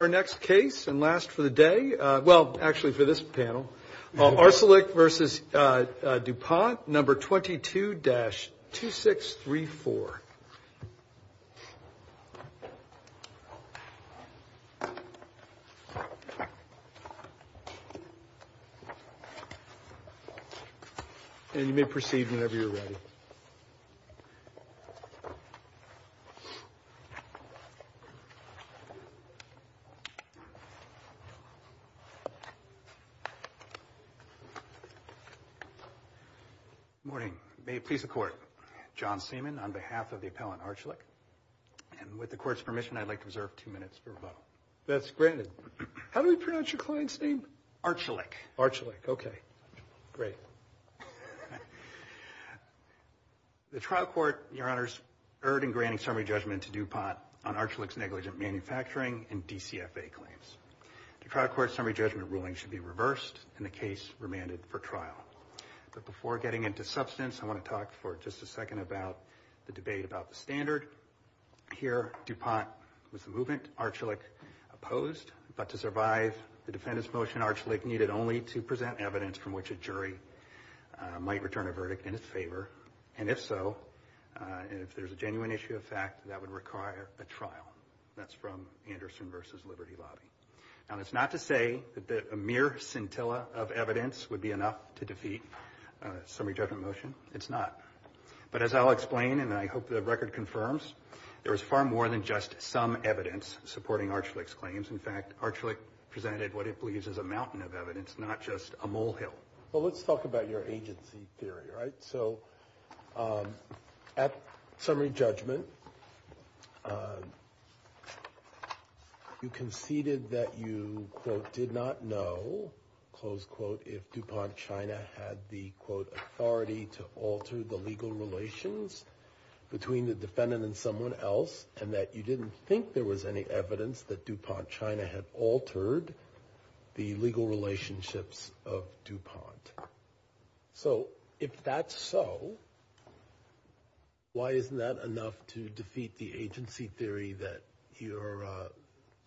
Our next case and last for the day, well, actually for this panel, Arcelik v. Dupont, No. 22-2634. And you may proceed whenever you're ready. Good morning. May it please the Court. John Seaman on behalf of the appellant Arcelik. And with the Court's permission, I'd like to reserve two minutes for rebuttal. That's granted. How do we pronounce your client's name? Arcelik. Arcelik. Okay. Great. The trial court, Your Honors, erred in granting summary judgment to Dupont on Arcelik's negligent manufacturing and DCFA claims. The trial court's summary judgment ruling should be reversed and the case remanded for trial. But before getting into substance, I want to talk for just a second about the debate about the standard. Here, Dupont was the movement, Arcelik opposed. But to survive the defendant's motion, Arcelik needed only to present evidence from which a jury might return a verdict in its favor. And if so, if there's a genuine issue of fact, that would require a trial. That's from Anderson v. Liberty Lobby. Now, that's not to say that a mere scintilla of evidence would be enough to defeat a summary judgment motion. It's not. But as I'll explain, and I hope the record confirms, there is far more than just some evidence supporting Arcelik's claims. In fact, Arcelik presented what it believes is a mountain of evidence, not just a molehill. Well, let's talk about your agency theory, right? So at summary judgment, you conceded that you, quote, did not know, close quote, if Dupont China had the, quote, authority to alter the legal relations between the defendant and someone else, and that you didn't think there was any evidence that Dupont China had altered the legal relationships of Dupont. So if that's so, why isn't that enough to defeat the agency theory that your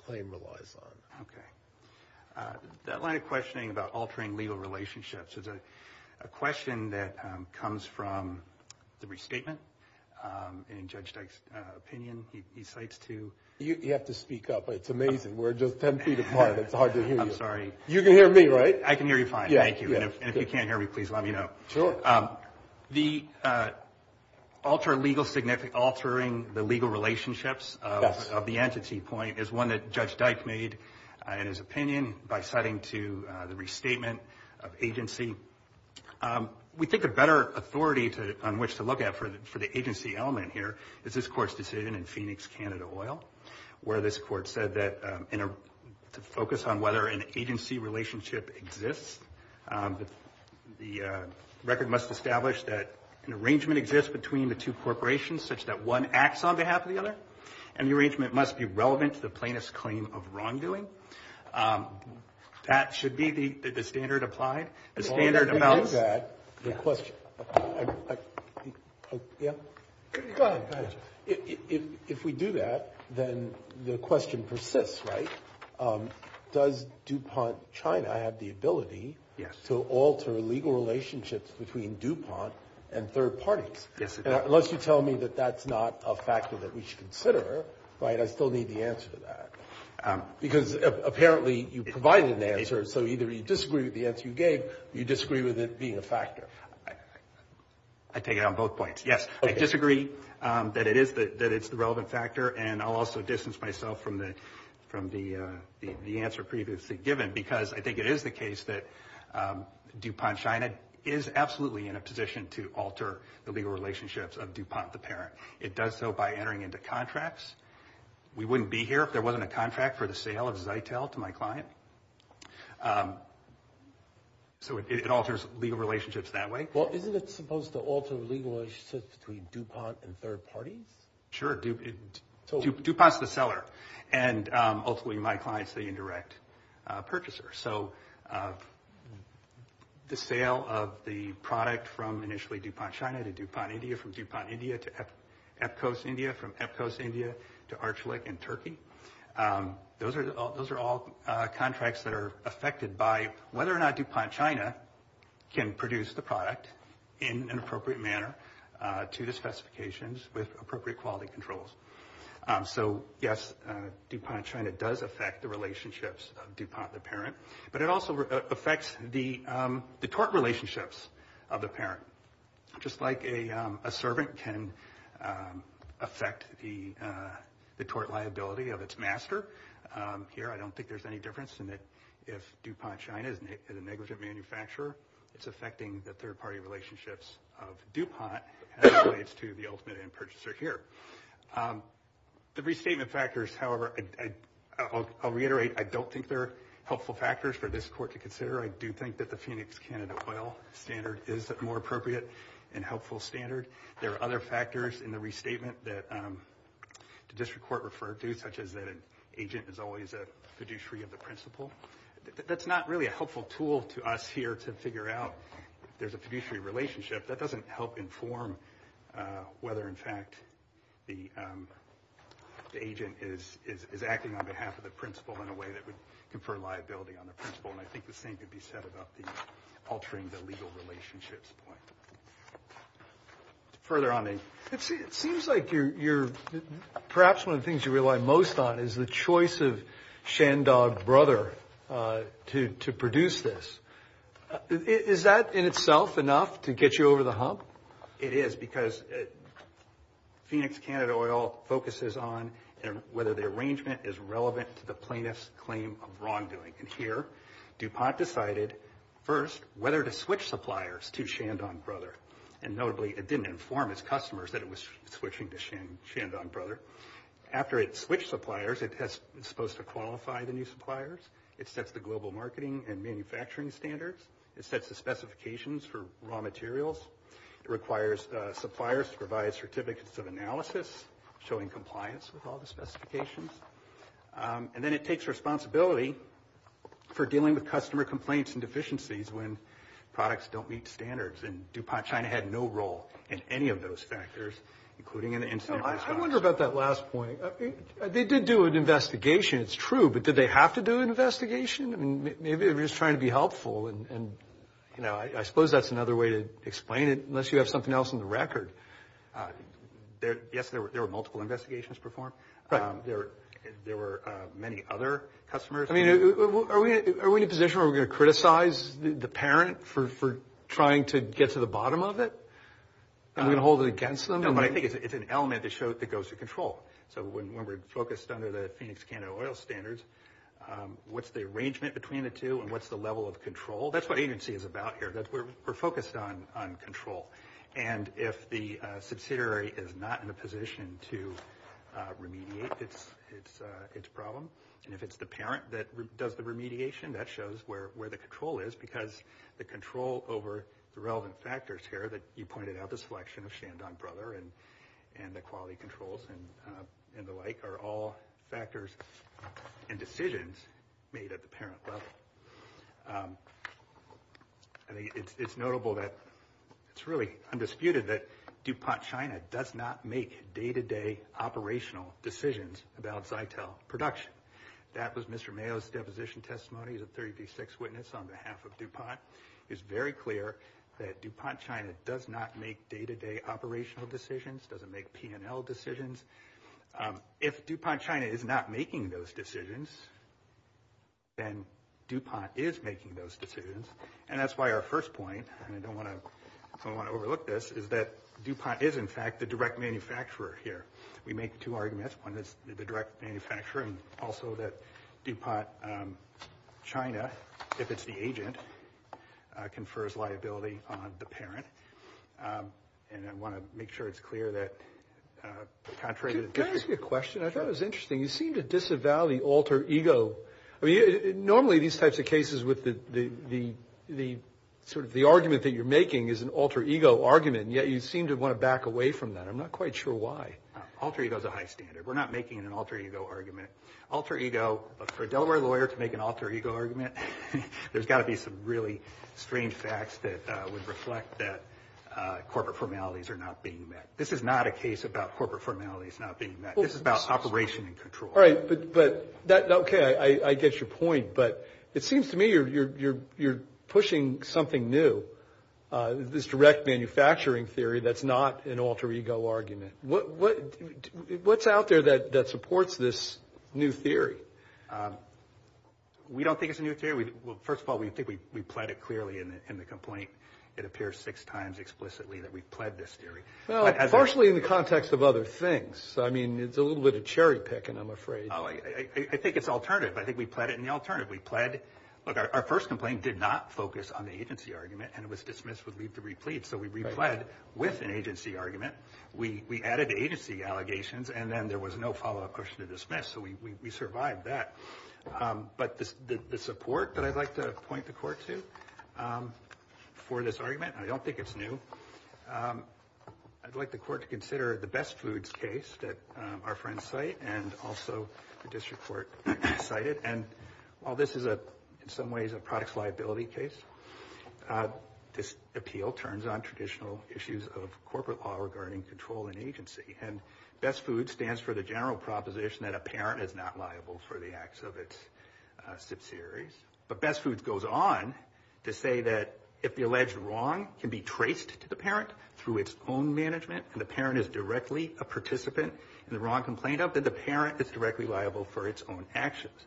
claim relies on? Okay. That line of questioning about altering legal relationships is a question that comes from the restatement in Judge Dyke's opinion. He cites two. You have to speak up. It's amazing. We're just 10 feet apart. It's hard to hear you. I'm sorry. You can hear me, right? I can hear you fine. Thank you. And if you can't hear me, please let me know. Sure. The altering the legal relationships of the entity point is one that Judge Dyke made in his opinion by citing to the restatement of agency. We think a better authority on which to look at for the agency element here is this Court's decision in Phoenix, Canada Oil, where this Court said that to focus on whether an agency relationship exists, the record must establish that an arrangement exists between the two corporations such that one acts on behalf of the other, and the arrangement must be relevant to the plaintiff's claim of wrongdoing. That should be the standard applied. The standard amounts. If we do that, then the question persists, right? Does DuPont China have the ability to alter legal relationships between DuPont and third parties? Yes, it does. Unless you tell me that that's not a factor that we should consider, right, I still need the answer to that. Because apparently you provided the answer, so either you disagree with the answer you gave or you disagree with it being a factor. I take it on both points. Yes, I disagree that it's the relevant factor, and I'll also distance myself from the answer previously given, because I think it is the case that DuPont China is absolutely in a position to alter the legal relationships of DuPont the parent. It does so by entering into contracts. We wouldn't be here if there wasn't a contract for the sale of Zytel to my client. So it alters legal relationships that way. Well, isn't it supposed to alter legal relationships between DuPont and third parties? Sure. DuPont's the seller, and ultimately my client's the indirect purchaser. So the sale of the product from initially DuPont China to DuPont India, from DuPont India to EPCOS India, from EPCOS India to Archelic in Turkey, those are all contracts that are affected by whether or not DuPont China can produce the product in an appropriate manner to the specifications with appropriate quality controls. So, yes, DuPont China does affect the relationships of DuPont the parent, but it also affects the tort relationships of the parent, just like a servant can affect the tort liability of its master. Here I don't think there's any difference in that if DuPont China is a negligent manufacturer, it's affecting the third party relationships of DuPont as it relates to the ultimate end purchaser here. The restatement factors, however, I'll reiterate, I don't think they're helpful factors for this court to consider. I do think that the Phoenix Canada oil standard is a more appropriate and helpful standard. There are other factors in the restatement that the district court referred to, such as that an agent is always a fiduciary of the principal. That's not really a helpful tool to us here to figure out if there's a fiduciary relationship. That doesn't help inform whether, in fact, the agent is acting on behalf of the principal in a way that would confer liability on the principal, and I think the same could be said about the altering the legal relationships point. Further on, it seems like perhaps one of the things you rely most on is the choice of Shandong Brother to produce this. Is that in itself enough to get you over the hump? It is because Phoenix Canada oil focuses on whether the arrangement is relevant to the plaintiff's claim of wrongdoing. Here, DuPont decided first whether to switch suppliers to Shandong Brother. Notably, it didn't inform its customers that it was switching to Shandong Brother. After it switched suppliers, it's supposed to qualify the new suppliers. It sets the global marketing and manufacturing standards. It sets the specifications for raw materials. It requires suppliers to provide certificates of analysis, showing compliance with all the specifications. And then it takes responsibility for dealing with customer complaints and deficiencies when products don't meet standards, and DuPont China had no role in any of those factors, including in the incident response. I wonder about that last point. They did do an investigation. It's true, but did they have to do an investigation? I mean, maybe they were just trying to be helpful, and, you know, I suppose that's another way to explain it, unless you have something else on the record. Yes, there were multiple investigations performed. There were many other customers. I mean, are we in a position where we're going to criticize the parent for trying to get to the bottom of it? Are we going to hold it against them? No, but I think it's an element that goes to control. So when we're focused under the Phoenix Canada oil standards, what's the arrangement between the two, and what's the level of control? That's what agency is about here. We're focused on control. And if the subsidiary is not in a position to remediate its problem, and if it's the parent that does the remediation, that shows where the control is, because the control over the relevant factors here that you pointed out, the selection of Shandong Brother and the quality controls and the like, are all factors and decisions made at the parent level. I think it's notable that it's really undisputed that DuPont China does not make day-to-day operational decisions about Zytel production. That was Mr. Mayo's deposition testimony. He's a 36 witness on behalf of DuPont. It's very clear that DuPont China does not make day-to-day operational decisions, doesn't make P&L decisions. If DuPont China is not making those decisions, then DuPont is making those decisions. And that's why our first point, and I don't want to overlook this, is that DuPont is, in fact, the direct manufacturer here. We make two arguments. One is the direct manufacturer, and also that DuPont China, if it's the agent, confers liability on the parent. And I want to make sure it's clear that contrary to the theory. Can I ask you a question? I thought it was interesting. You seem to disavow the alter ego. I mean, normally these types of cases with the argument that you're making is an alter ego argument, and yet you seem to want to back away from that. I'm not quite sure why. Alter ego is a high standard. We're not making an alter ego argument. Alter ego, for a Delaware lawyer to make an alter ego argument, there's got to be some really strange facts that would reflect that corporate formalities are not being met. This is not a case about corporate formalities not being met. This is about operation and control. All right, but, okay, I get your point, but it seems to me you're pushing something new, this direct manufacturing theory that's not an alter ego argument. What's out there that supports this new theory? We don't think it's a new theory. Well, first of all, we think we pled it clearly in the complaint. It appears six times explicitly that we've pled this theory. Well, partially in the context of other things. I mean, it's a little bit of cherry picking, I'm afraid. I think it's alternative. I think we pled it in the alternative. We pled, look, our first complaint did not focus on the agency argument, and it was dismissed with leave to replete, so we repled with an agency argument. We added agency allegations, and then there was no follow-up question to dismiss, so we survived that. But the support that I'd like to point the court to for this argument, and I don't think it's new, I'd like the court to consider the best foods case that our friends cite and also the district court cited. And while this is, in some ways, a products liability case, this appeal turns on traditional issues of corporate law regarding control and agency. And best foods stands for the general proposition that a parent is not liable for the acts of its subsidiaries. But best foods goes on to say that if the alleged wrong can be traced to the parent through its own management and the parent is directly a participant in the wrong complaint, then the parent is directly liable for its own actions.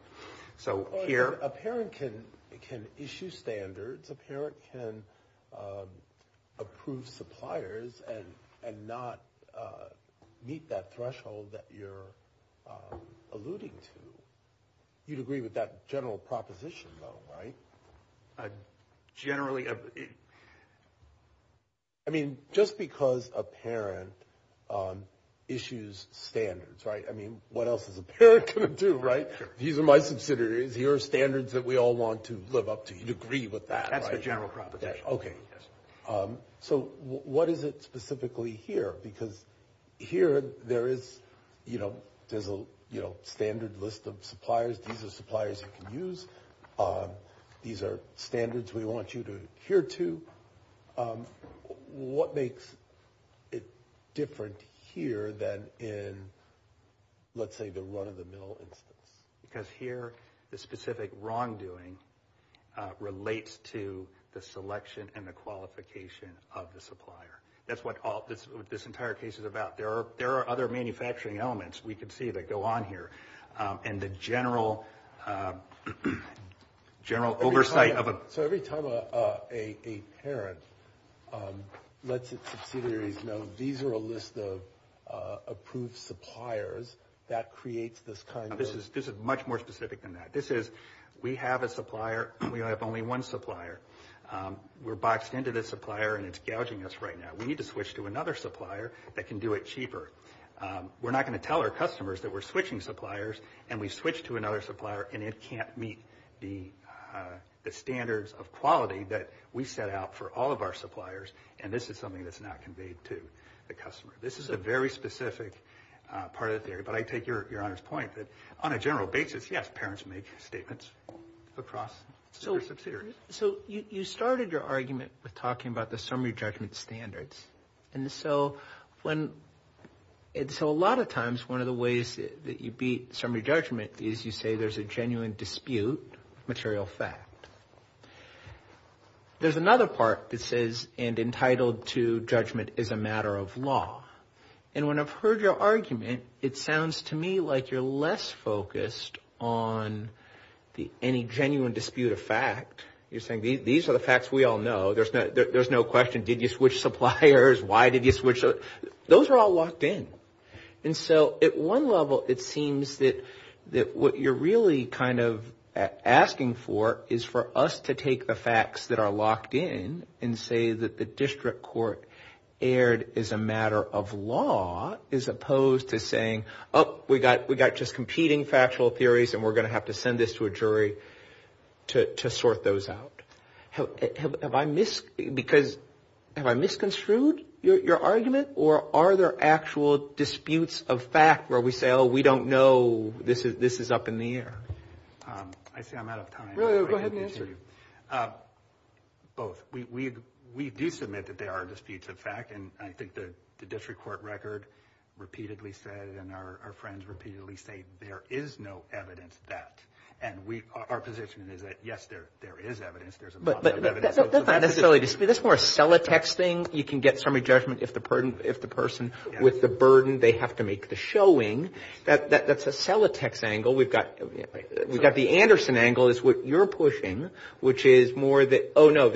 A parent can issue standards. A parent can approve suppliers and not meet that threshold that you're alluding to. You'd agree with that general proposition, though, right? Generally. I mean, just because a parent issues standards, right? I mean, what else is a parent going to do, right? These are my subsidiaries. Here are standards that we all want to live up to. You'd agree with that, right? That's the general proposition. Okay. So what is it specifically here? Because here there is a standard list of suppliers. These are suppliers you can use. These are standards we want you to adhere to. What makes it different here than in, let's say, the run-of-the-mill instance? Because here the specific wrongdoing relates to the selection and the qualification of the supplier. That's what this entire case is about. There are other manufacturing elements, we can see, that go on here. And the general oversight of a… So every time a parent lets its subsidiaries know these are a list of approved suppliers, that creates this kind of… This is much more specific than that. This is, we have a supplier, and we only have one supplier. We're boxed into this supplier, and it's gouging us right now. We need to switch to another supplier that can do it cheaper. We're not going to tell our customers that we're switching suppliers, and we switch to another supplier, and it can't meet the standards of quality that we set out for all of our suppliers, and this is something that's not conveyed to the customer. This is a very specific part of the theory. But I take Your Honor's point that on a general basis, yes, parents make statements across their subsidiaries. So you started your argument with talking about the summary judgment standards. And so when… So a lot of times, one of the ways that you beat summary judgment is you say there's a genuine dispute of material fact. There's another part that says entitled to judgment is a matter of law. And when I've heard your argument, it sounds to me like you're less focused on any genuine dispute of fact. You're saying these are the facts we all know. There's no question. Did you switch suppliers? Why did you switch? Those are all locked in. And so at one level, it seems that what you're really kind of asking for is for us to take the facts that are locked in and say that the district court erred as a matter of law as opposed to saying, oh, we got just competing factual theories, and we're going to have to send this to a jury to sort those out. Have I misconstrued your argument? Or are there actual disputes of fact where we say, oh, we don't know, this is up in the air? I see I'm out of time. Go ahead and answer. Both. We do submit that there are disputes of fact, and I think the district court record repeatedly said and our friends repeatedly say there is no evidence that. And our position is that, yes, there is evidence. There's a lot of evidence. That's not necessarily a dispute. That's more a Celotex thing. You can get summary judgment if the person with the burden, they have to make the showing. That's a Celotex angle. We've got the Anderson angle is what you're pushing, which is more that, oh, no,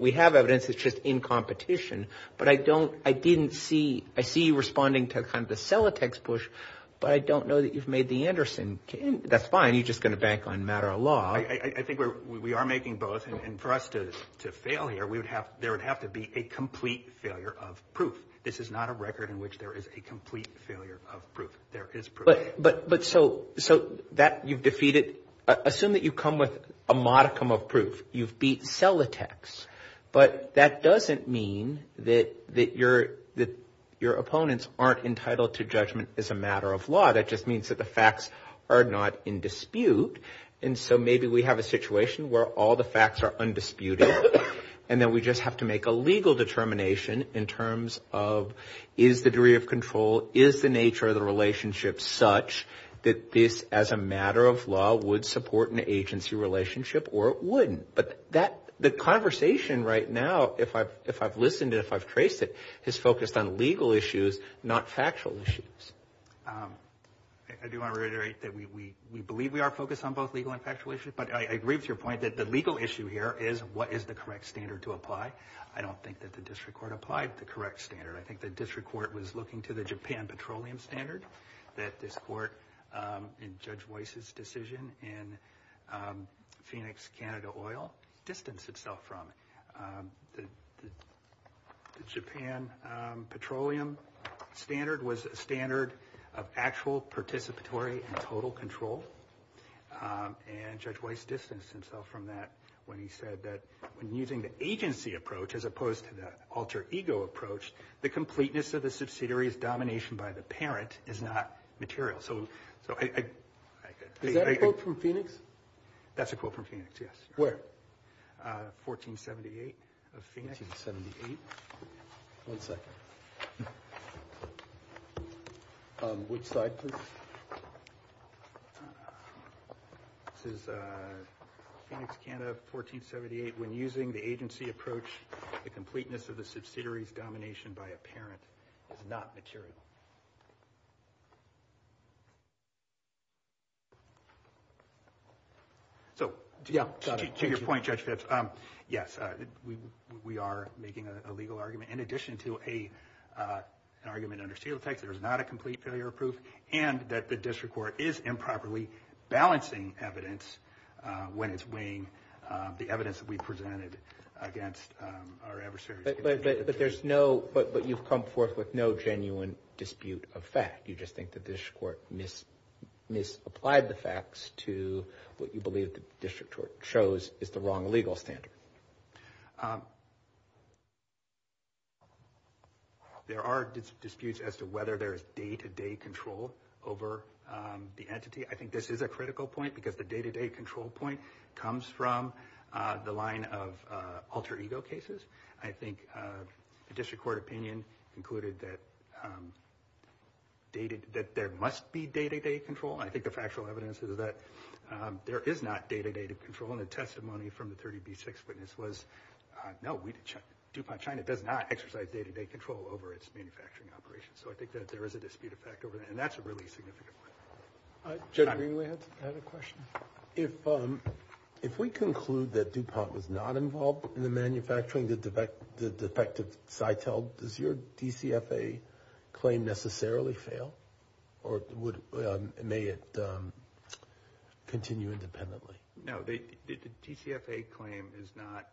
we have evidence. It's just in competition. But I don't – I didn't see – I see you responding to kind of the Celotex push, but I don't know that you've made the Anderson. And that's fine. You're just going to bank on matter of law. I think we are making both. And for us to fail here, we would have – there would have to be a complete failure of proof. This is not a record in which there is a complete failure of proof. There is proof. But so that you've defeated – assume that you come with a modicum of proof. You've beat Celotex. But that doesn't mean that your opponents aren't entitled to judgment as a matter of law. That just means that the facts are not in dispute. And so maybe we have a situation where all the facts are undisputed, and then we just have to make a legal determination in terms of is the degree of control, is the nature of the relationship such that this, as a matter of law, would support an agency relationship or it wouldn't. But that – the conversation right now, if I've listened and if I've traced it, is focused on legal issues, not factual issues. I do want to reiterate that we believe we are focused on both legal and factual issues, but I agree with your point that the legal issue here is what is the correct standard to apply. I don't think that the district court applied the correct standard. I think the district court was looking to the Japan petroleum standard that this court, in Judge Weiss's decision in Phoenix Canada Oil, distanced itself from. The Japan petroleum standard was a standard of actual participatory and total control, and Judge Weiss distanced himself from that when he said that when using the agency approach as opposed to the alter ego approach, the completeness of the subsidiary's domination by the parent is not material. So I – Is that a quote from Phoenix? That's a quote from Phoenix, yes. Where? 1478 of Phoenix. 1478? One second. Which side, please? This is Phoenix Canada, 1478. When using the agency approach, the completeness of the subsidiary's domination by a parent is not material. So, to your point, Judge Phipps, yes, we are making a legal argument. In addition to an argument under steel tax, there is not a complete failure of proof, and that the district court is improperly balancing evidence when it's weighing the evidence that we presented against our adversaries. But there's no – but you've come forth with no genuine dispute of fact. You just think that the district court misapplied the facts to what you believe the district court chose is the wrong legal standard. There are disputes as to whether there is day-to-day control over the entity. I think this is a critical point because the day-to-day control point comes from the line of alter ego cases. I think the district court opinion included that there must be day-to-day control. I think the factual evidence is that there is not day-to-day control, and the testimony from the 30B6 witness was, no, DuPont China does not exercise day-to-day control over its manufacturing operations. So I think that there is a dispute of fact over that, and that's a really significant point. Judge Green, we had a question. If we conclude that DuPont was not involved in the manufacturing, the defective CITEL, does your DCFA claim necessarily fail? Or may it continue independently? No, the DCFA claim is not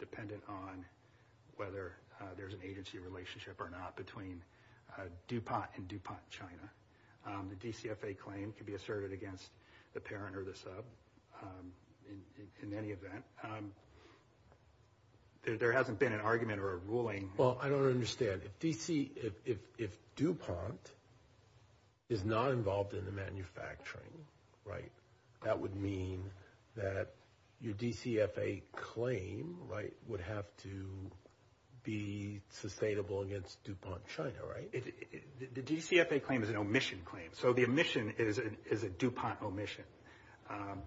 dependent on whether there's an agency relationship or not between DuPont and DuPont China. The DCFA claim can be asserted against the parent or the sub in any event. There hasn't been an argument or a ruling. Well, I don't understand. If DuPont is not involved in the manufacturing, that would mean that your DCFA claim would have to be sustainable against DuPont China, right? The DCFA claim is an omission claim, so the omission is a DuPont omission.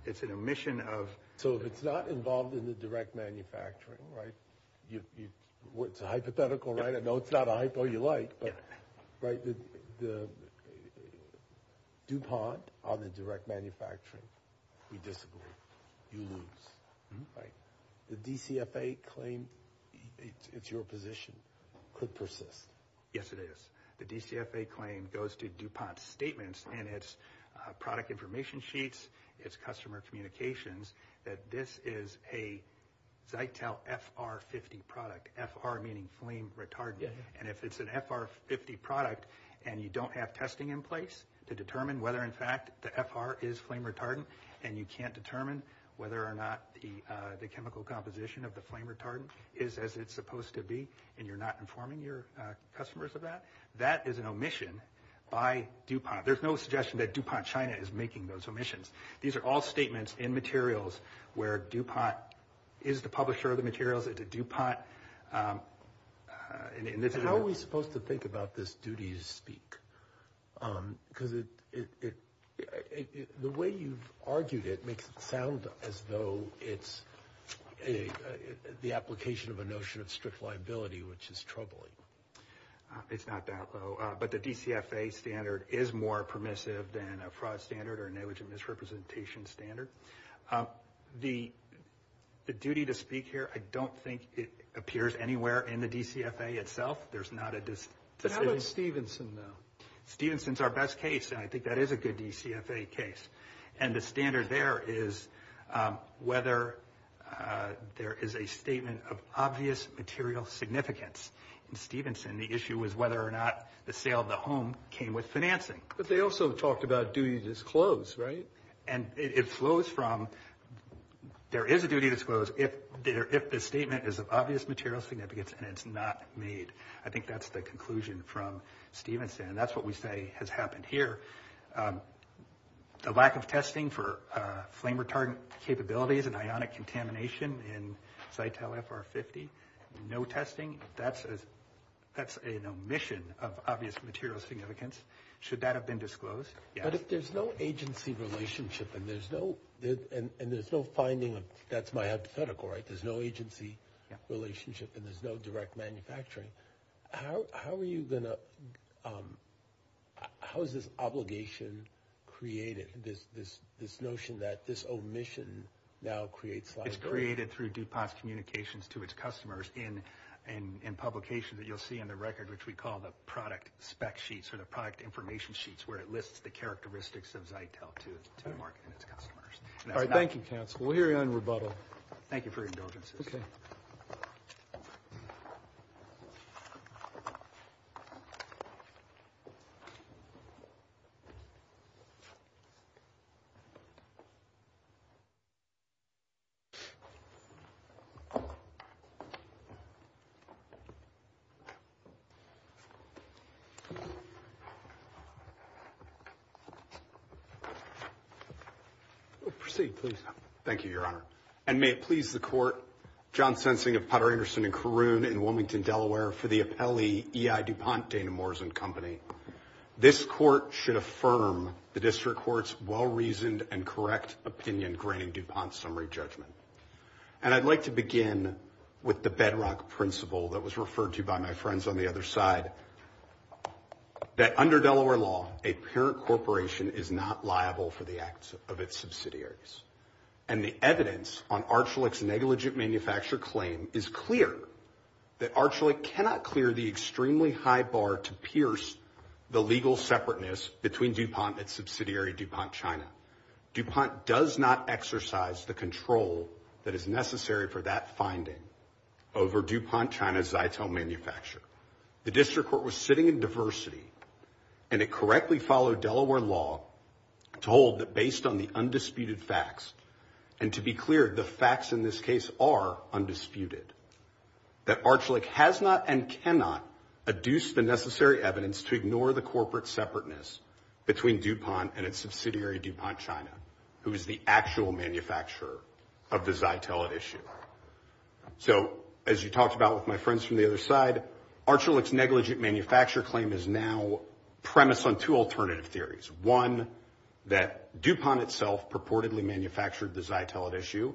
It's an omission of... So if it's not involved in the direct manufacturing, right, it's a hypothetical, right? I know it's not a hypo you like, but, right, DuPont on the direct manufacturing, we disagree. You lose, right? The DCFA claim, it's your position, could persist. Yes, it is. The DCFA claim goes to DuPont's statements in its product information sheets, its customer communications, that this is a Zytel FR-50 product, FR meaning flame retardant. And if it's an FR-50 product and you don't have testing in place to determine whether, in fact, the FR is flame retardant, and you can't determine whether or not the chemical composition of the flame retardant is as it's supposed to be, and you're not informing your customers of that, that is an omission by DuPont. There's no suggestion that DuPont China is making those omissions. These are all statements in materials where DuPont is the publisher of the materials. It's a DuPont... How are we supposed to think about this duty to speak? Because the way you've argued it makes it sound as though it's the application of a notion of strict liability, which is troubling. It's not that low. But the DCFA standard is more permissive than a fraud standard or negligent misrepresentation standard. The duty to speak here, I don't think it appears anywhere in the DCFA itself. How about Stevenson, though? Stevenson's our best case, and I think that is a good DCFA case. And the standard there is whether there is a statement of obvious material significance. In Stevenson, the issue was whether or not the sale of the home came with financing. But they also talked about duty disclosed, right? And it flows from there is a duty disclosed if the statement is of obvious material significance and it's not made. I think that's the conclusion from Stevenson. That's what we say has happened here. The lack of testing for flame retardant capabilities and ionic contamination in Zytel FR-50, no testing. That's an omission of obvious material significance. Should that have been disclosed? Yes. But if there's no agency relationship and there's no finding of – that's my hypothetical, right? There's no agency relationship and there's no direct manufacturing. How are you going to – how is this obligation created, this notion that this omission now creates liability? It's created through DuPont's communications to its customers in publications that you'll see in the record, which we call the product spec sheets or the product information sheets where it lists the characteristics of Zytel to its customers. All right. Thank you, counsel. We'll hear you on rebuttal. Thank you for your indulgences. Okay. Proceed, please. Thank you, Your Honor. And may it please the court, John Sensing of Potter Anderson and Caroon in Wilmington, Delaware, for the appellee E.I. DuPont, Dana Morrison Company. This court should affirm the district court's well-reasoned and correct opinion granting DuPont's summary judgment. And I'd like to begin with the bedrock principle that was referred to by my friends on the other side, that under Delaware law, a parent corporation is not liable for the acts of its subsidiaries. And the evidence on Archulech's negligent manufacturer claim is clear, that Archulech cannot clear the extremely high bar to pierce the legal separateness between DuPont and subsidiary DuPont China. DuPont does not exercise the control that is necessary for that finding over DuPont China's Zytel manufacturer. The district court was sitting in diversity, and it correctly followed Delaware law to hold that based on the undisputed facts, and to be clear, the facts in this case are undisputed, that Archulech has not and cannot adduce the necessary evidence to ignore the corporate separateness between DuPont and its subsidiary DuPont China, who is the actual manufacturer of the Zytel at issue. So, as you talked about with my friends from the other side, Archulech's negligent manufacturer claim is now premised on two alternative theories. One, that DuPont itself purportedly manufactured the Zytel at issue,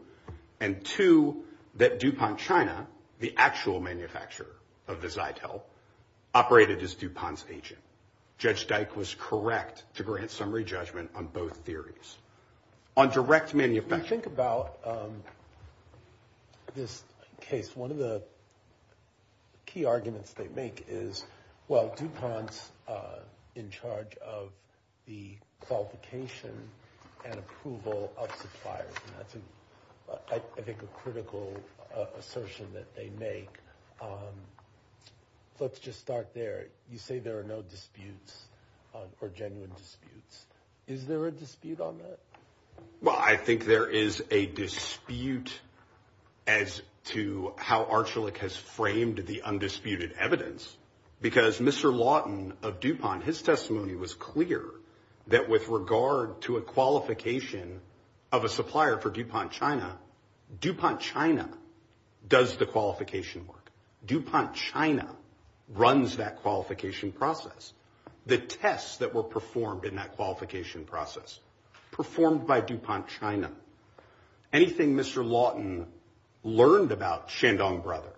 and two, that DuPont China, the actual manufacturer of the Zytel, operated as DuPont's agent. Judge Dyke was correct to grant summary judgment on both theories. On direct manufacture— When you think about this case, one of the key arguments they make is, well, DuPont's in charge of the qualification and approval of suppliers, and that's, I think, a critical assertion that they make. Let's just start there. You say there are no disputes or genuine disputes. Is there a dispute on that? Well, I think there is a dispute as to how Archulech has framed the undisputed evidence, because Mr. Lawton of DuPont, his testimony was clear that with regard to a qualification of a supplier for DuPont China, DuPont China does the qualification work. DuPont China runs that qualification process. The tests that were performed in that qualification process, performed by DuPont China, anything Mr. Lawton learned about Shandong Brother,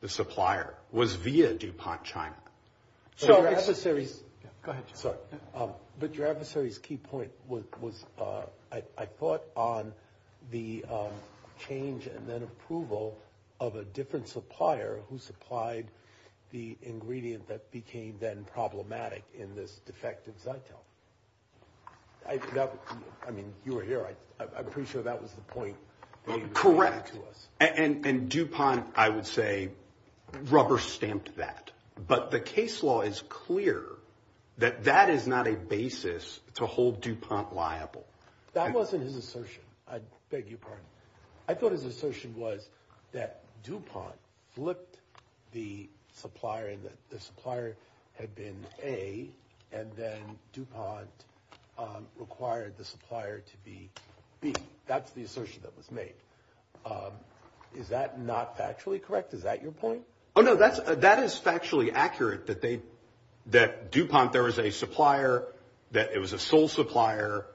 the supplier, was via DuPont China. But your adversary's key point was, I thought, on the change and then approval of a different supplier who supplied the ingredient that became then problematic in this defective Zytel. I mean, you were here. I'm pretty sure that was the point. Correct. And DuPont, I would say, rubber-stamped that. But the case law is clear that that is not a basis to hold DuPont liable. That wasn't his assertion. I beg your pardon. I thought his assertion was that DuPont flipped the supplier, and that the supplier had been A, and then DuPont required the supplier to be B. That's the assertion that was made. Is that not factually correct? Is that your point? Oh, no, that is factually accurate, that DuPont, there was a supplier, that it was a sole supplier.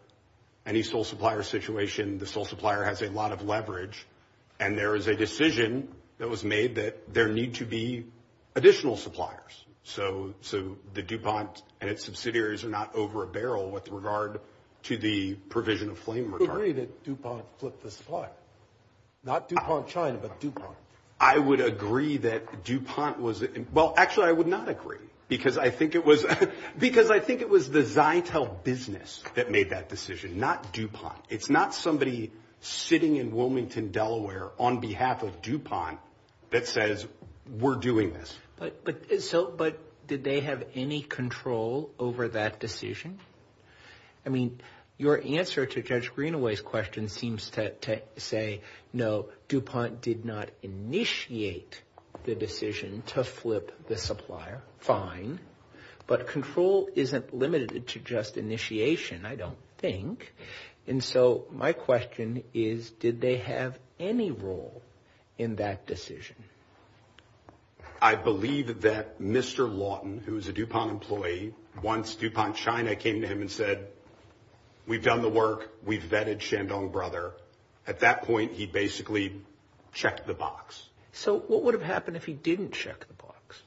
Any sole supplier situation, the sole supplier has a lot of leverage. And there is a decision that was made that there need to be additional suppliers. So the DuPont and its subsidiaries are not over a barrel with regard to the provision of flame retardant. Would you agree that DuPont flipped the supplier? Not DuPont China, but DuPont. I would agree that DuPont was – well, actually, I would not agree, because I think it was the Zytel business that made that decision, not DuPont. It's not somebody sitting in Wilmington, Delaware, on behalf of DuPont that says, we're doing this. But did they have any control over that decision? I mean, your answer to Judge Greenaway's question seems to say, no, DuPont did not initiate the decision to flip the supplier. Fine. But control isn't limited to just initiation, I don't think. And so my question is, did they have any role in that decision? I believe that Mr. Lawton, who is a DuPont employee, once DuPont China came to him and said, we've done the work, we've vetted Shandong Brother, at that point he basically checked the box. So what would have happened if he didn't check the box?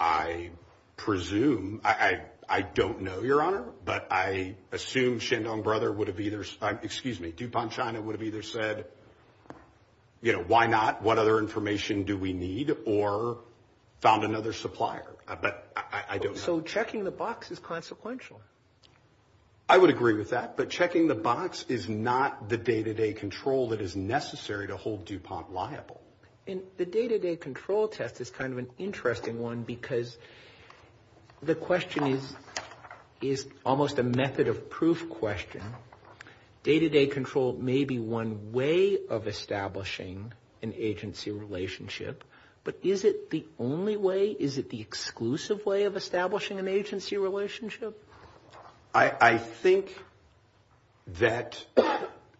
I presume – I don't know, Your Honor, but I assume Shandong Brother would have either – excuse me, DuPont China would have either said, you know, why not, what other information do we need, or found another supplier. But I don't know. So checking the box is consequential. I would agree with that, but checking the box is not the day-to-day control that is necessary to hold DuPont liable. And the day-to-day control test is kind of an interesting one, because the question is almost a method of proof question. Day-to-day control may be one way of establishing an agency relationship, but is it the only way? Is it the exclusive way of establishing an agency relationship? I think that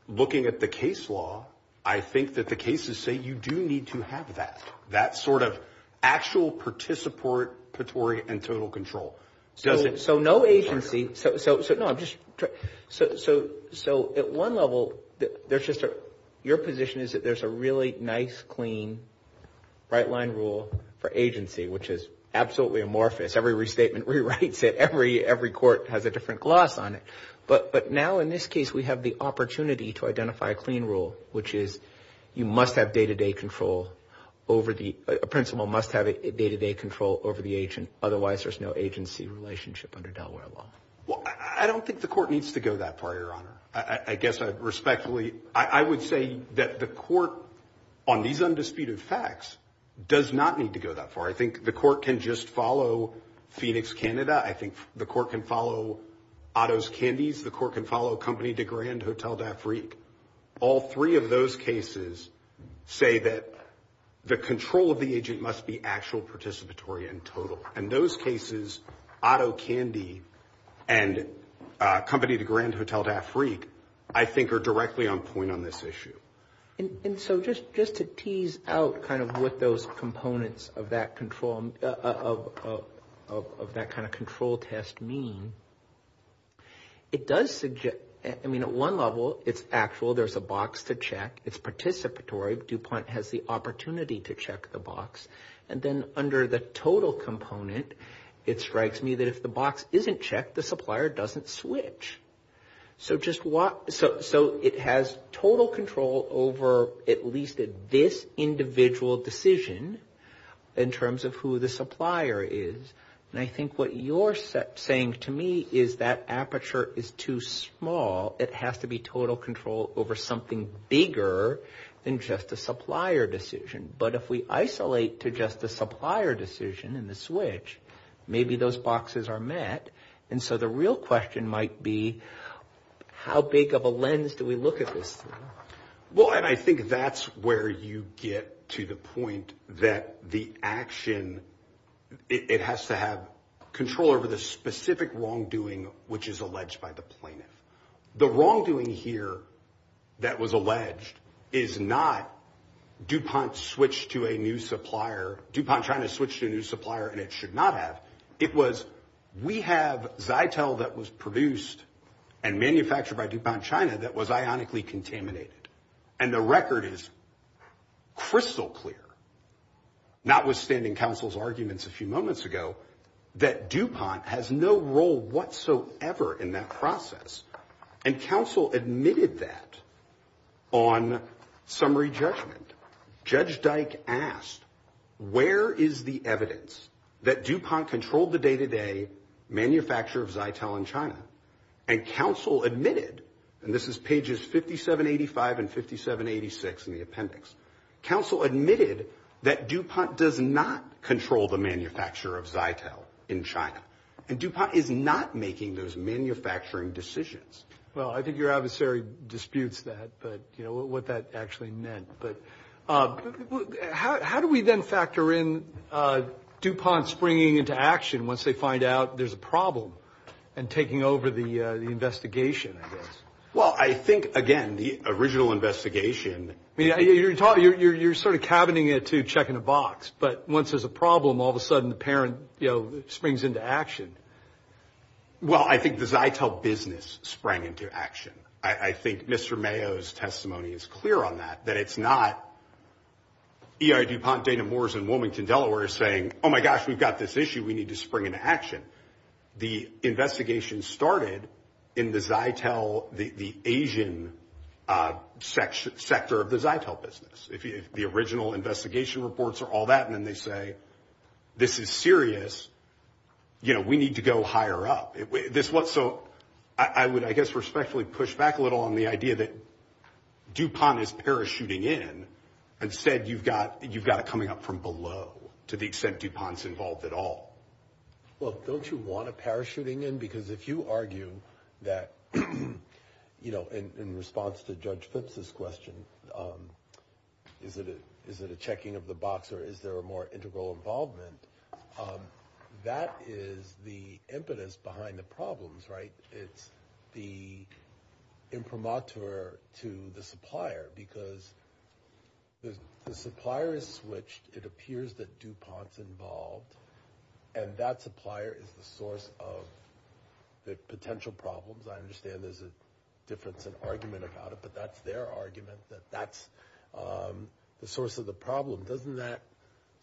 looking at the case law, I think that the cases say you do need to have that, that sort of actual participatory and total control. So no agency – no, I'm just – so at one level, there's just a – your position is that there's a really nice, clean, right-line rule for agency, which is absolutely amorphous. Every restatement rewrites it. Every court has a different gloss on it. But now, in this case, we have the opportunity to identify a clean rule, which is you must have day-to-day control over the – a principal must have day-to-day control over the agent. Otherwise, there's no agency relationship under Delaware law. Well, I don't think the court needs to go that far, Your Honor. I guess I respectfully – I would say that the court, on these undisputed facts, does not need to go that far. I think the court can just follow Phoenix, Canada. I think the court can follow Otto's Candies. The court can follow Company de Grand, Hotel d'Afrique. All three of those cases say that the control of the agent must be actual participatory and total. In those cases, Otto Candy and Company de Grand, Hotel d'Afrique, I think, are directly on point on this issue. And so just to tease out kind of what those components of that control – of that kind of control test mean, it does – I mean, at one level, it's actual. There's a box to check. It's participatory. DuPont has the opportunity to check the box. And then under the total component, it strikes me that if the box isn't checked, the supplier doesn't switch. So just what – so it has total control over at least this individual decision in terms of who the supplier is. And I think what you're saying to me is that aperture is too small. It has to be total control over something bigger than just the supplier decision. But if we isolate to just the supplier decision and the switch, maybe those boxes are met. And so the real question might be how big of a lens do we look at this? Well, and I think that's where you get to the point that the action – it has to have control over the specific wrongdoing which is alleged by the plaintiff. The wrongdoing here that was alleged is not DuPont switched to a new supplier – DuPont trying to switch to a new supplier and it should not have. It was we have Zytel that was produced and manufactured by DuPont China that was ionically contaminated. And the record is crystal clear, notwithstanding counsel's arguments a few moments ago, that DuPont has no role whatsoever in that process. And counsel admitted that on summary judgment. Judge Dyke asked, where is the evidence that DuPont controlled the day-to-day manufacture of Zytel in China? And counsel admitted – and this is pages 5785 and 5786 in the appendix – counsel admitted that DuPont does not control the manufacture of Zytel in China. And DuPont is not making those manufacturing decisions. Well, I think your adversary disputes that, but, you know, what that actually meant. But how do we then factor in DuPont springing into action once they find out there's a problem and taking over the investigation, I guess? Well, I think, again, the original investigation – I mean, you're sort of cabining it to check in a box. But once there's a problem, all of a sudden the parent springs into action. Well, I think the Zytel business sprang into action. I think Mr. Mayo's testimony is clear on that, that it's not E.I. DuPont, Dana Moores, and Wilmington, Delaware saying, oh, my gosh, we've got this issue, we need to spring into action. The investigation started in the Zytel – the Asian sector of the Zytel business. If the original investigation reports are all that, and then they say, this is serious, you know, we need to go higher up. So I would, I guess, respectfully push back a little on the idea that DuPont is parachuting in. Instead, you've got it coming up from below, to the extent DuPont's involved at all. Well, don't you want a parachuting in? Because if you argue that, you know, in response to Judge Phipps' question, is it a checking of the box or is there a more integral involvement, that is the impetus behind the problems, right? It's the imprimatur to the supplier, because the supplier is switched, it appears that DuPont's involved, and that supplier is the source of the potential problems. I understand there's a difference in argument about it, but that's their argument, that that's the source of the problem. Doesn't that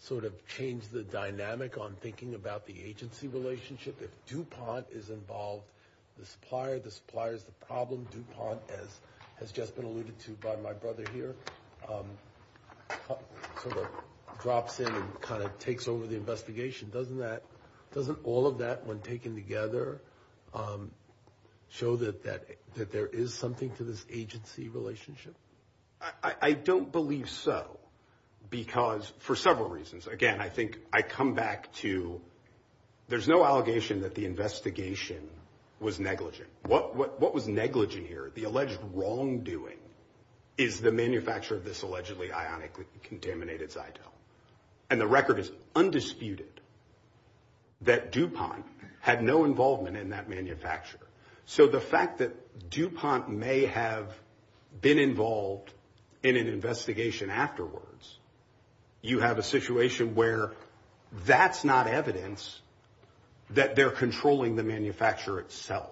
sort of change the dynamic on thinking about the agency relationship? If DuPont is involved, the supplier, the supplier's the problem. DuPont, as has just been alluded to by my brother here, sort of drops in and kind of takes over the investigation. Doesn't all of that, when taken together, show that there is something to this agency relationship? I don't believe so, because for several reasons. Again, I think I come back to there's no allegation that the investigation was negligent. What was negligent here, the alleged wrongdoing, is the manufacture of this allegedly ionically contaminated Zyto. And the record is undisputed that DuPont had no involvement in that manufacture. So the fact that DuPont may have been involved in an investigation afterwards, you have a situation where that's not evidence that they're controlling the manufacturer itself.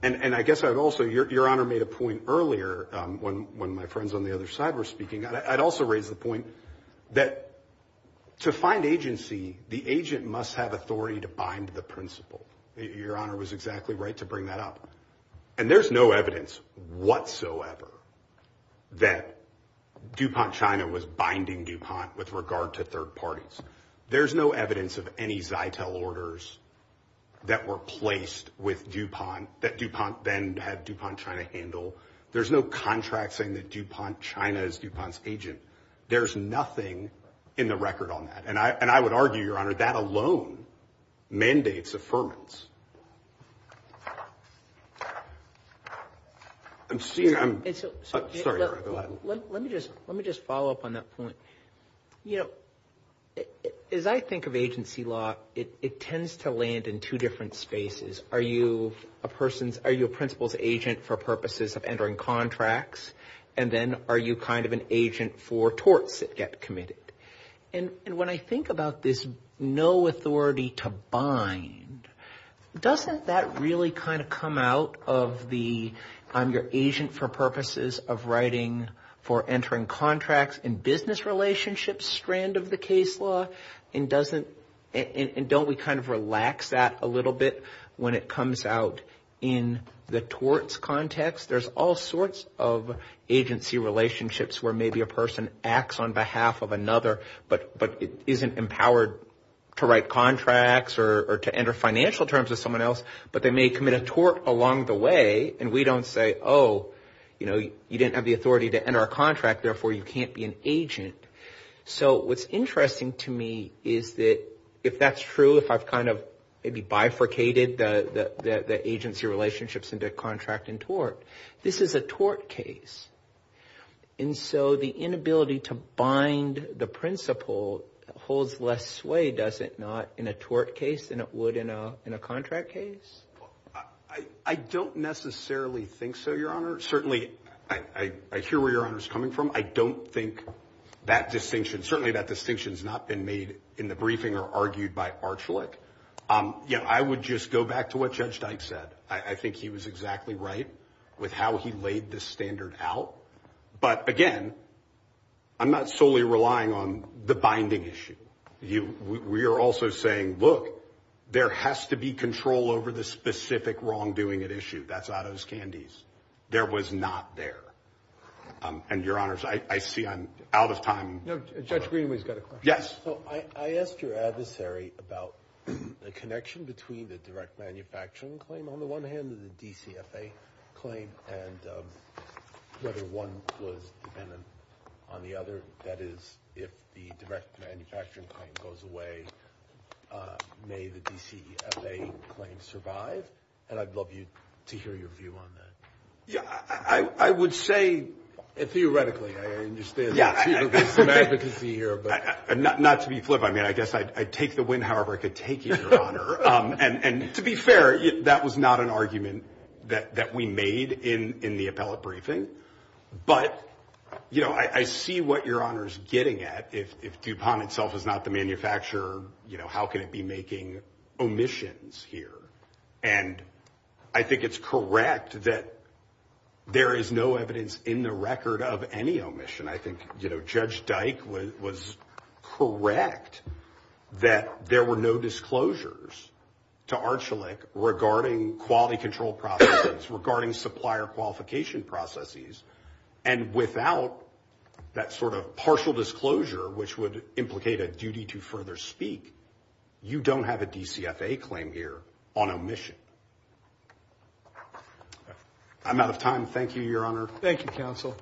And I guess I would also, Your Honor made a point earlier, when my friends on the other side were speaking, I'd also raise the point that to find agency, the agent must have authority to bind the principal. Your Honor was exactly right to bring that up. And there's no evidence whatsoever that DuPont China was binding DuPont with regard to third parties. There's no evidence of any Zyto orders that were placed with DuPont that DuPont then had DuPont China handle. There's no contract saying that DuPont China is DuPont's agent. There's nothing in the record on that. And I would argue, Your Honor, that alone mandates affirmance. Let me just follow up on that point. You know, as I think of agency law, it tends to land in two different spaces. Are you a principal's agent for purposes of entering contracts? And then are you kind of an agent for torts that get committed? And when I think about this no authority to bind, doesn't that really kind of come out of the, I'm your agent for purposes of writing for entering contracts in business relationships strand of the case law? And doesn't, and don't we kind of relax that a little bit when it comes out in the torts context? There's all sorts of agency relationships where maybe a person acts on behalf of another, but isn't empowered to write contracts or to enter financial terms with someone else, but they may commit a tort along the way and we don't say, oh, you know, you didn't have the authority to enter a contract, therefore you can't be an agent. So what's interesting to me is that if that's true, if I've kind of maybe bifurcated the agency relationships into contract and tort, this is a tort case. And so the inability to bind the principal holds less sway, does it, not in a tort case than it would in a contract case? I don't necessarily think so, Your Honor. Certainly, I hear where Your Honor's coming from. I don't think that distinction, certainly that distinction has not been made in the briefing or argued by Archulet. I would just go back to what Judge Dyke said. I think he was exactly right with how he laid the standard out. But again, I'm not solely relying on the binding issue. We are also saying, look, there has to be control over the specific wrongdoing at issue. That's out of his candies. There was not there. And, Your Honors, I see I'm out of time. Judge Greenway's got a question. Yes. I asked your adversary about the connection between the direct manufacturing claim on the one hand and the DCFA claim and whether one was dependent on the other. That is, if the direct manufacturing claim goes away, may the DCFA claim survive? And I'd love to hear your view on that. I would say, theoretically, I understand there's some advocacy here. Not to be flippant. I mean, I guess I'd take the win however I could take it, Your Honor. And to be fair, that was not an argument that we made in the appellate briefing. But, you know, I see what Your Honor's getting at. If DuPont itself is not the manufacturer, you know, how can it be making omissions here? And I think it's correct that there is no evidence in the record of any omission. I think, you know, Judge Dyke was correct that there were no disclosures to Archulet regarding quality control processes, regarding supplier qualification processes. And without that sort of partial disclosure, which would implicate a duty to further speak, you don't have a DCFA claim here on omission. I'm out of time. Thank you, Your Honor. Thank you, counsel.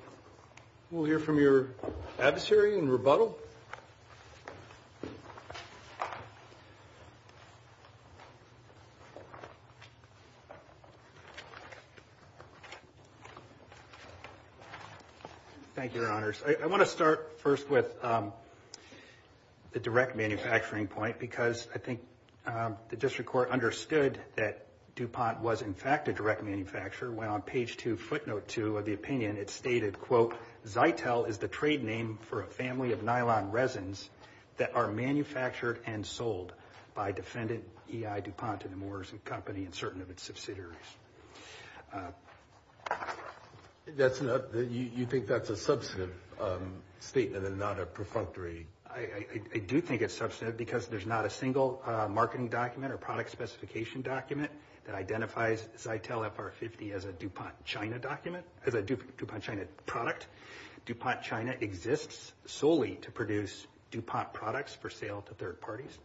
We'll hear from your adversary in rebuttal. Thank you, Your Honors. I want to start first with the direct manufacturing point, because I think the district court understood that DuPont was in fact a direct manufacturer when on page 2, footnote 2 of the opinion, it stated, quote, Zytel is the trade name for a family of nylon resins that are manufactured and sold by defendant E.I. DuPont and the Morrison Company and certain of its subsidiaries. You think that's a substantive statement and not a perfunctory? I do think it's substantive because there's not a single marketing document or product specification document that identifies Zytel FR-50 as a DuPont China document, as a DuPont China product. DuPont China exists solely to produce DuPont products for sale to third parties.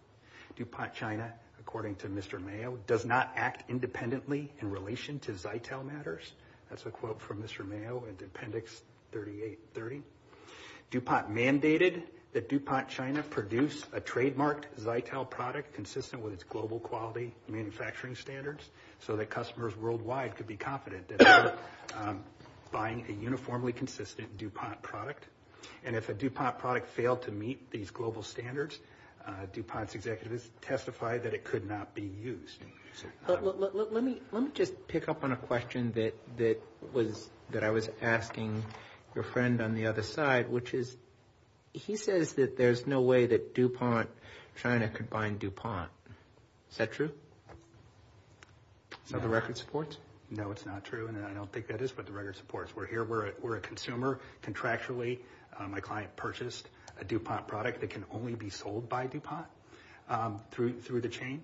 DuPont China, according to Mr. Mayo, does not act independently in relation to Zytel matters. That's a quote from Mr. Mayo in Appendix 3830. DuPont mandated that DuPont China produce a trademarked Zytel product consistent with its global quality manufacturing standards so that customers worldwide could be confident that they're buying a uniformly consistent DuPont product. And if a DuPont product failed to meet these global standards, DuPont's executives testified that it could not be used. Let me just pick up on a question that I was asking your friend on the other side, which is he says that there's no way that DuPont China could bind DuPont. Is that true? So the record supports? No, it's not true, and I don't think that is what the record supports. We're here. We're a consumer contractually. My client purchased a DuPont product that can only be sold by DuPont through the chain.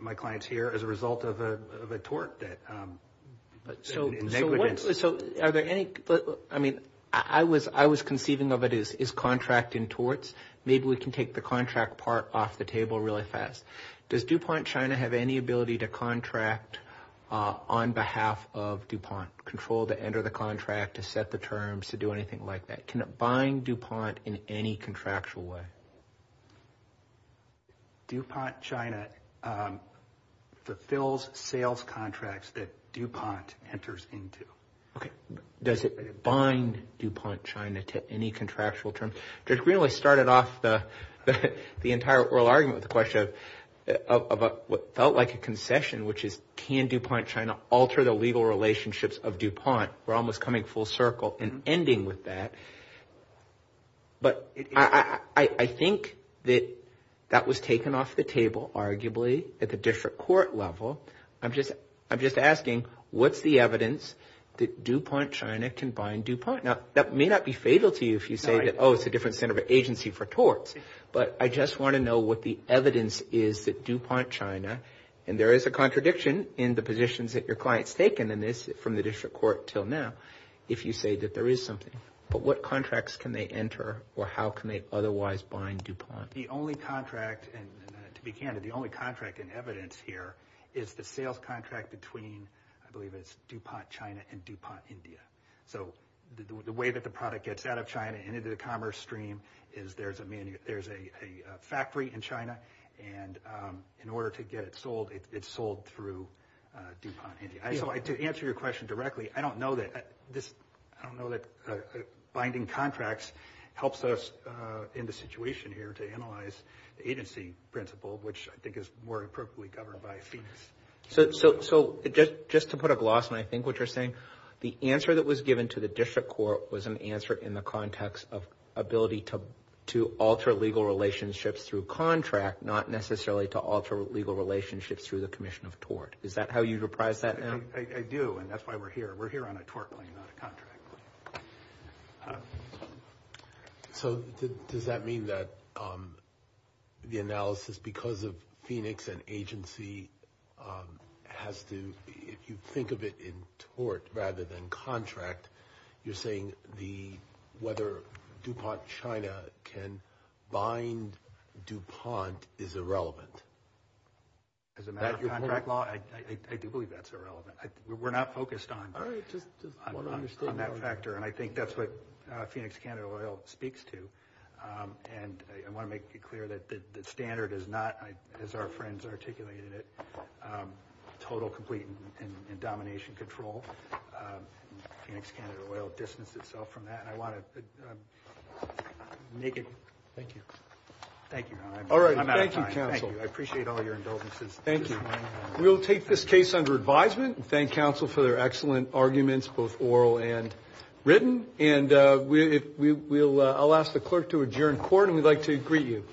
My client's here as a result of a tort that – So are there any – I mean, I was conceiving of it as contract in torts. Maybe we can take the contract part off the table really fast. Does DuPont China have any ability to contract on behalf of DuPont, control to enter the contract, to set the terms, to do anything like that? Can it bind DuPont in any contractual way? DuPont China fulfills sales contracts that DuPont enters into. Okay. Does it bind DuPont China to any contractual terms? Judge Greenlee started off the entire oral argument with the question of what felt like a concession, which is can DuPont China alter the legal relationships of DuPont. We're almost coming full circle and ending with that. But I think that that was taken off the table, arguably, at the different court level. I'm just asking what's the evidence that DuPont China can bind DuPont? Now, that may not be fatal to you if you say that, oh, it's a different center of agency for torts. But I just want to know what the evidence is that DuPont China, and there is a contradiction in the positions that your client's taken in this from the district court till now, if you say that there is something. But what contracts can they enter or how can they otherwise bind DuPont? The only contract, to be candid, the only contract in evidence here is the sales contract between, I believe it's DuPont China and DuPont India. So the way that the product gets out of China and into the commerce stream is there's a factory in China, and in order to get it sold, it's sold through DuPont India. So to answer your question directly, I don't know that binding contracts helps us in the situation here to analyze the agency principle, which I think is more appropriately governed by Phoenix. So just to put a gloss on, I think, what you're saying, the answer that was given to the district court was an answer in the context of ability to alter legal relationships through contract, not necessarily to alter legal relationships through the commission of tort. Is that how you reprise that? I do, and that's why we're here. We're here on a tort claim, not a contract claim. So does that mean that the analysis because of Phoenix and agency has to, if you think of it in tort rather than contract, you're saying whether DuPont China can bind DuPont is irrelevant? As a matter of contract law, I do believe that's irrelevant. We're not focused on that factor. And I think that's what Phoenix Canada Oil speaks to. And I want to make it clear that the standard is not, as our friends articulated it, total, complete, and domination control. Phoenix Canada Oil distanced itself from that. And I want to make it. Thank you. Thank you. All right. I'm out of time. Thank you. I appreciate all your indulgences. Thank you. We'll take this case under advisement and thank counsel for their excellent arguments, both oral and written. And I'll ask the clerk to adjourn court, and we'd like to greet you.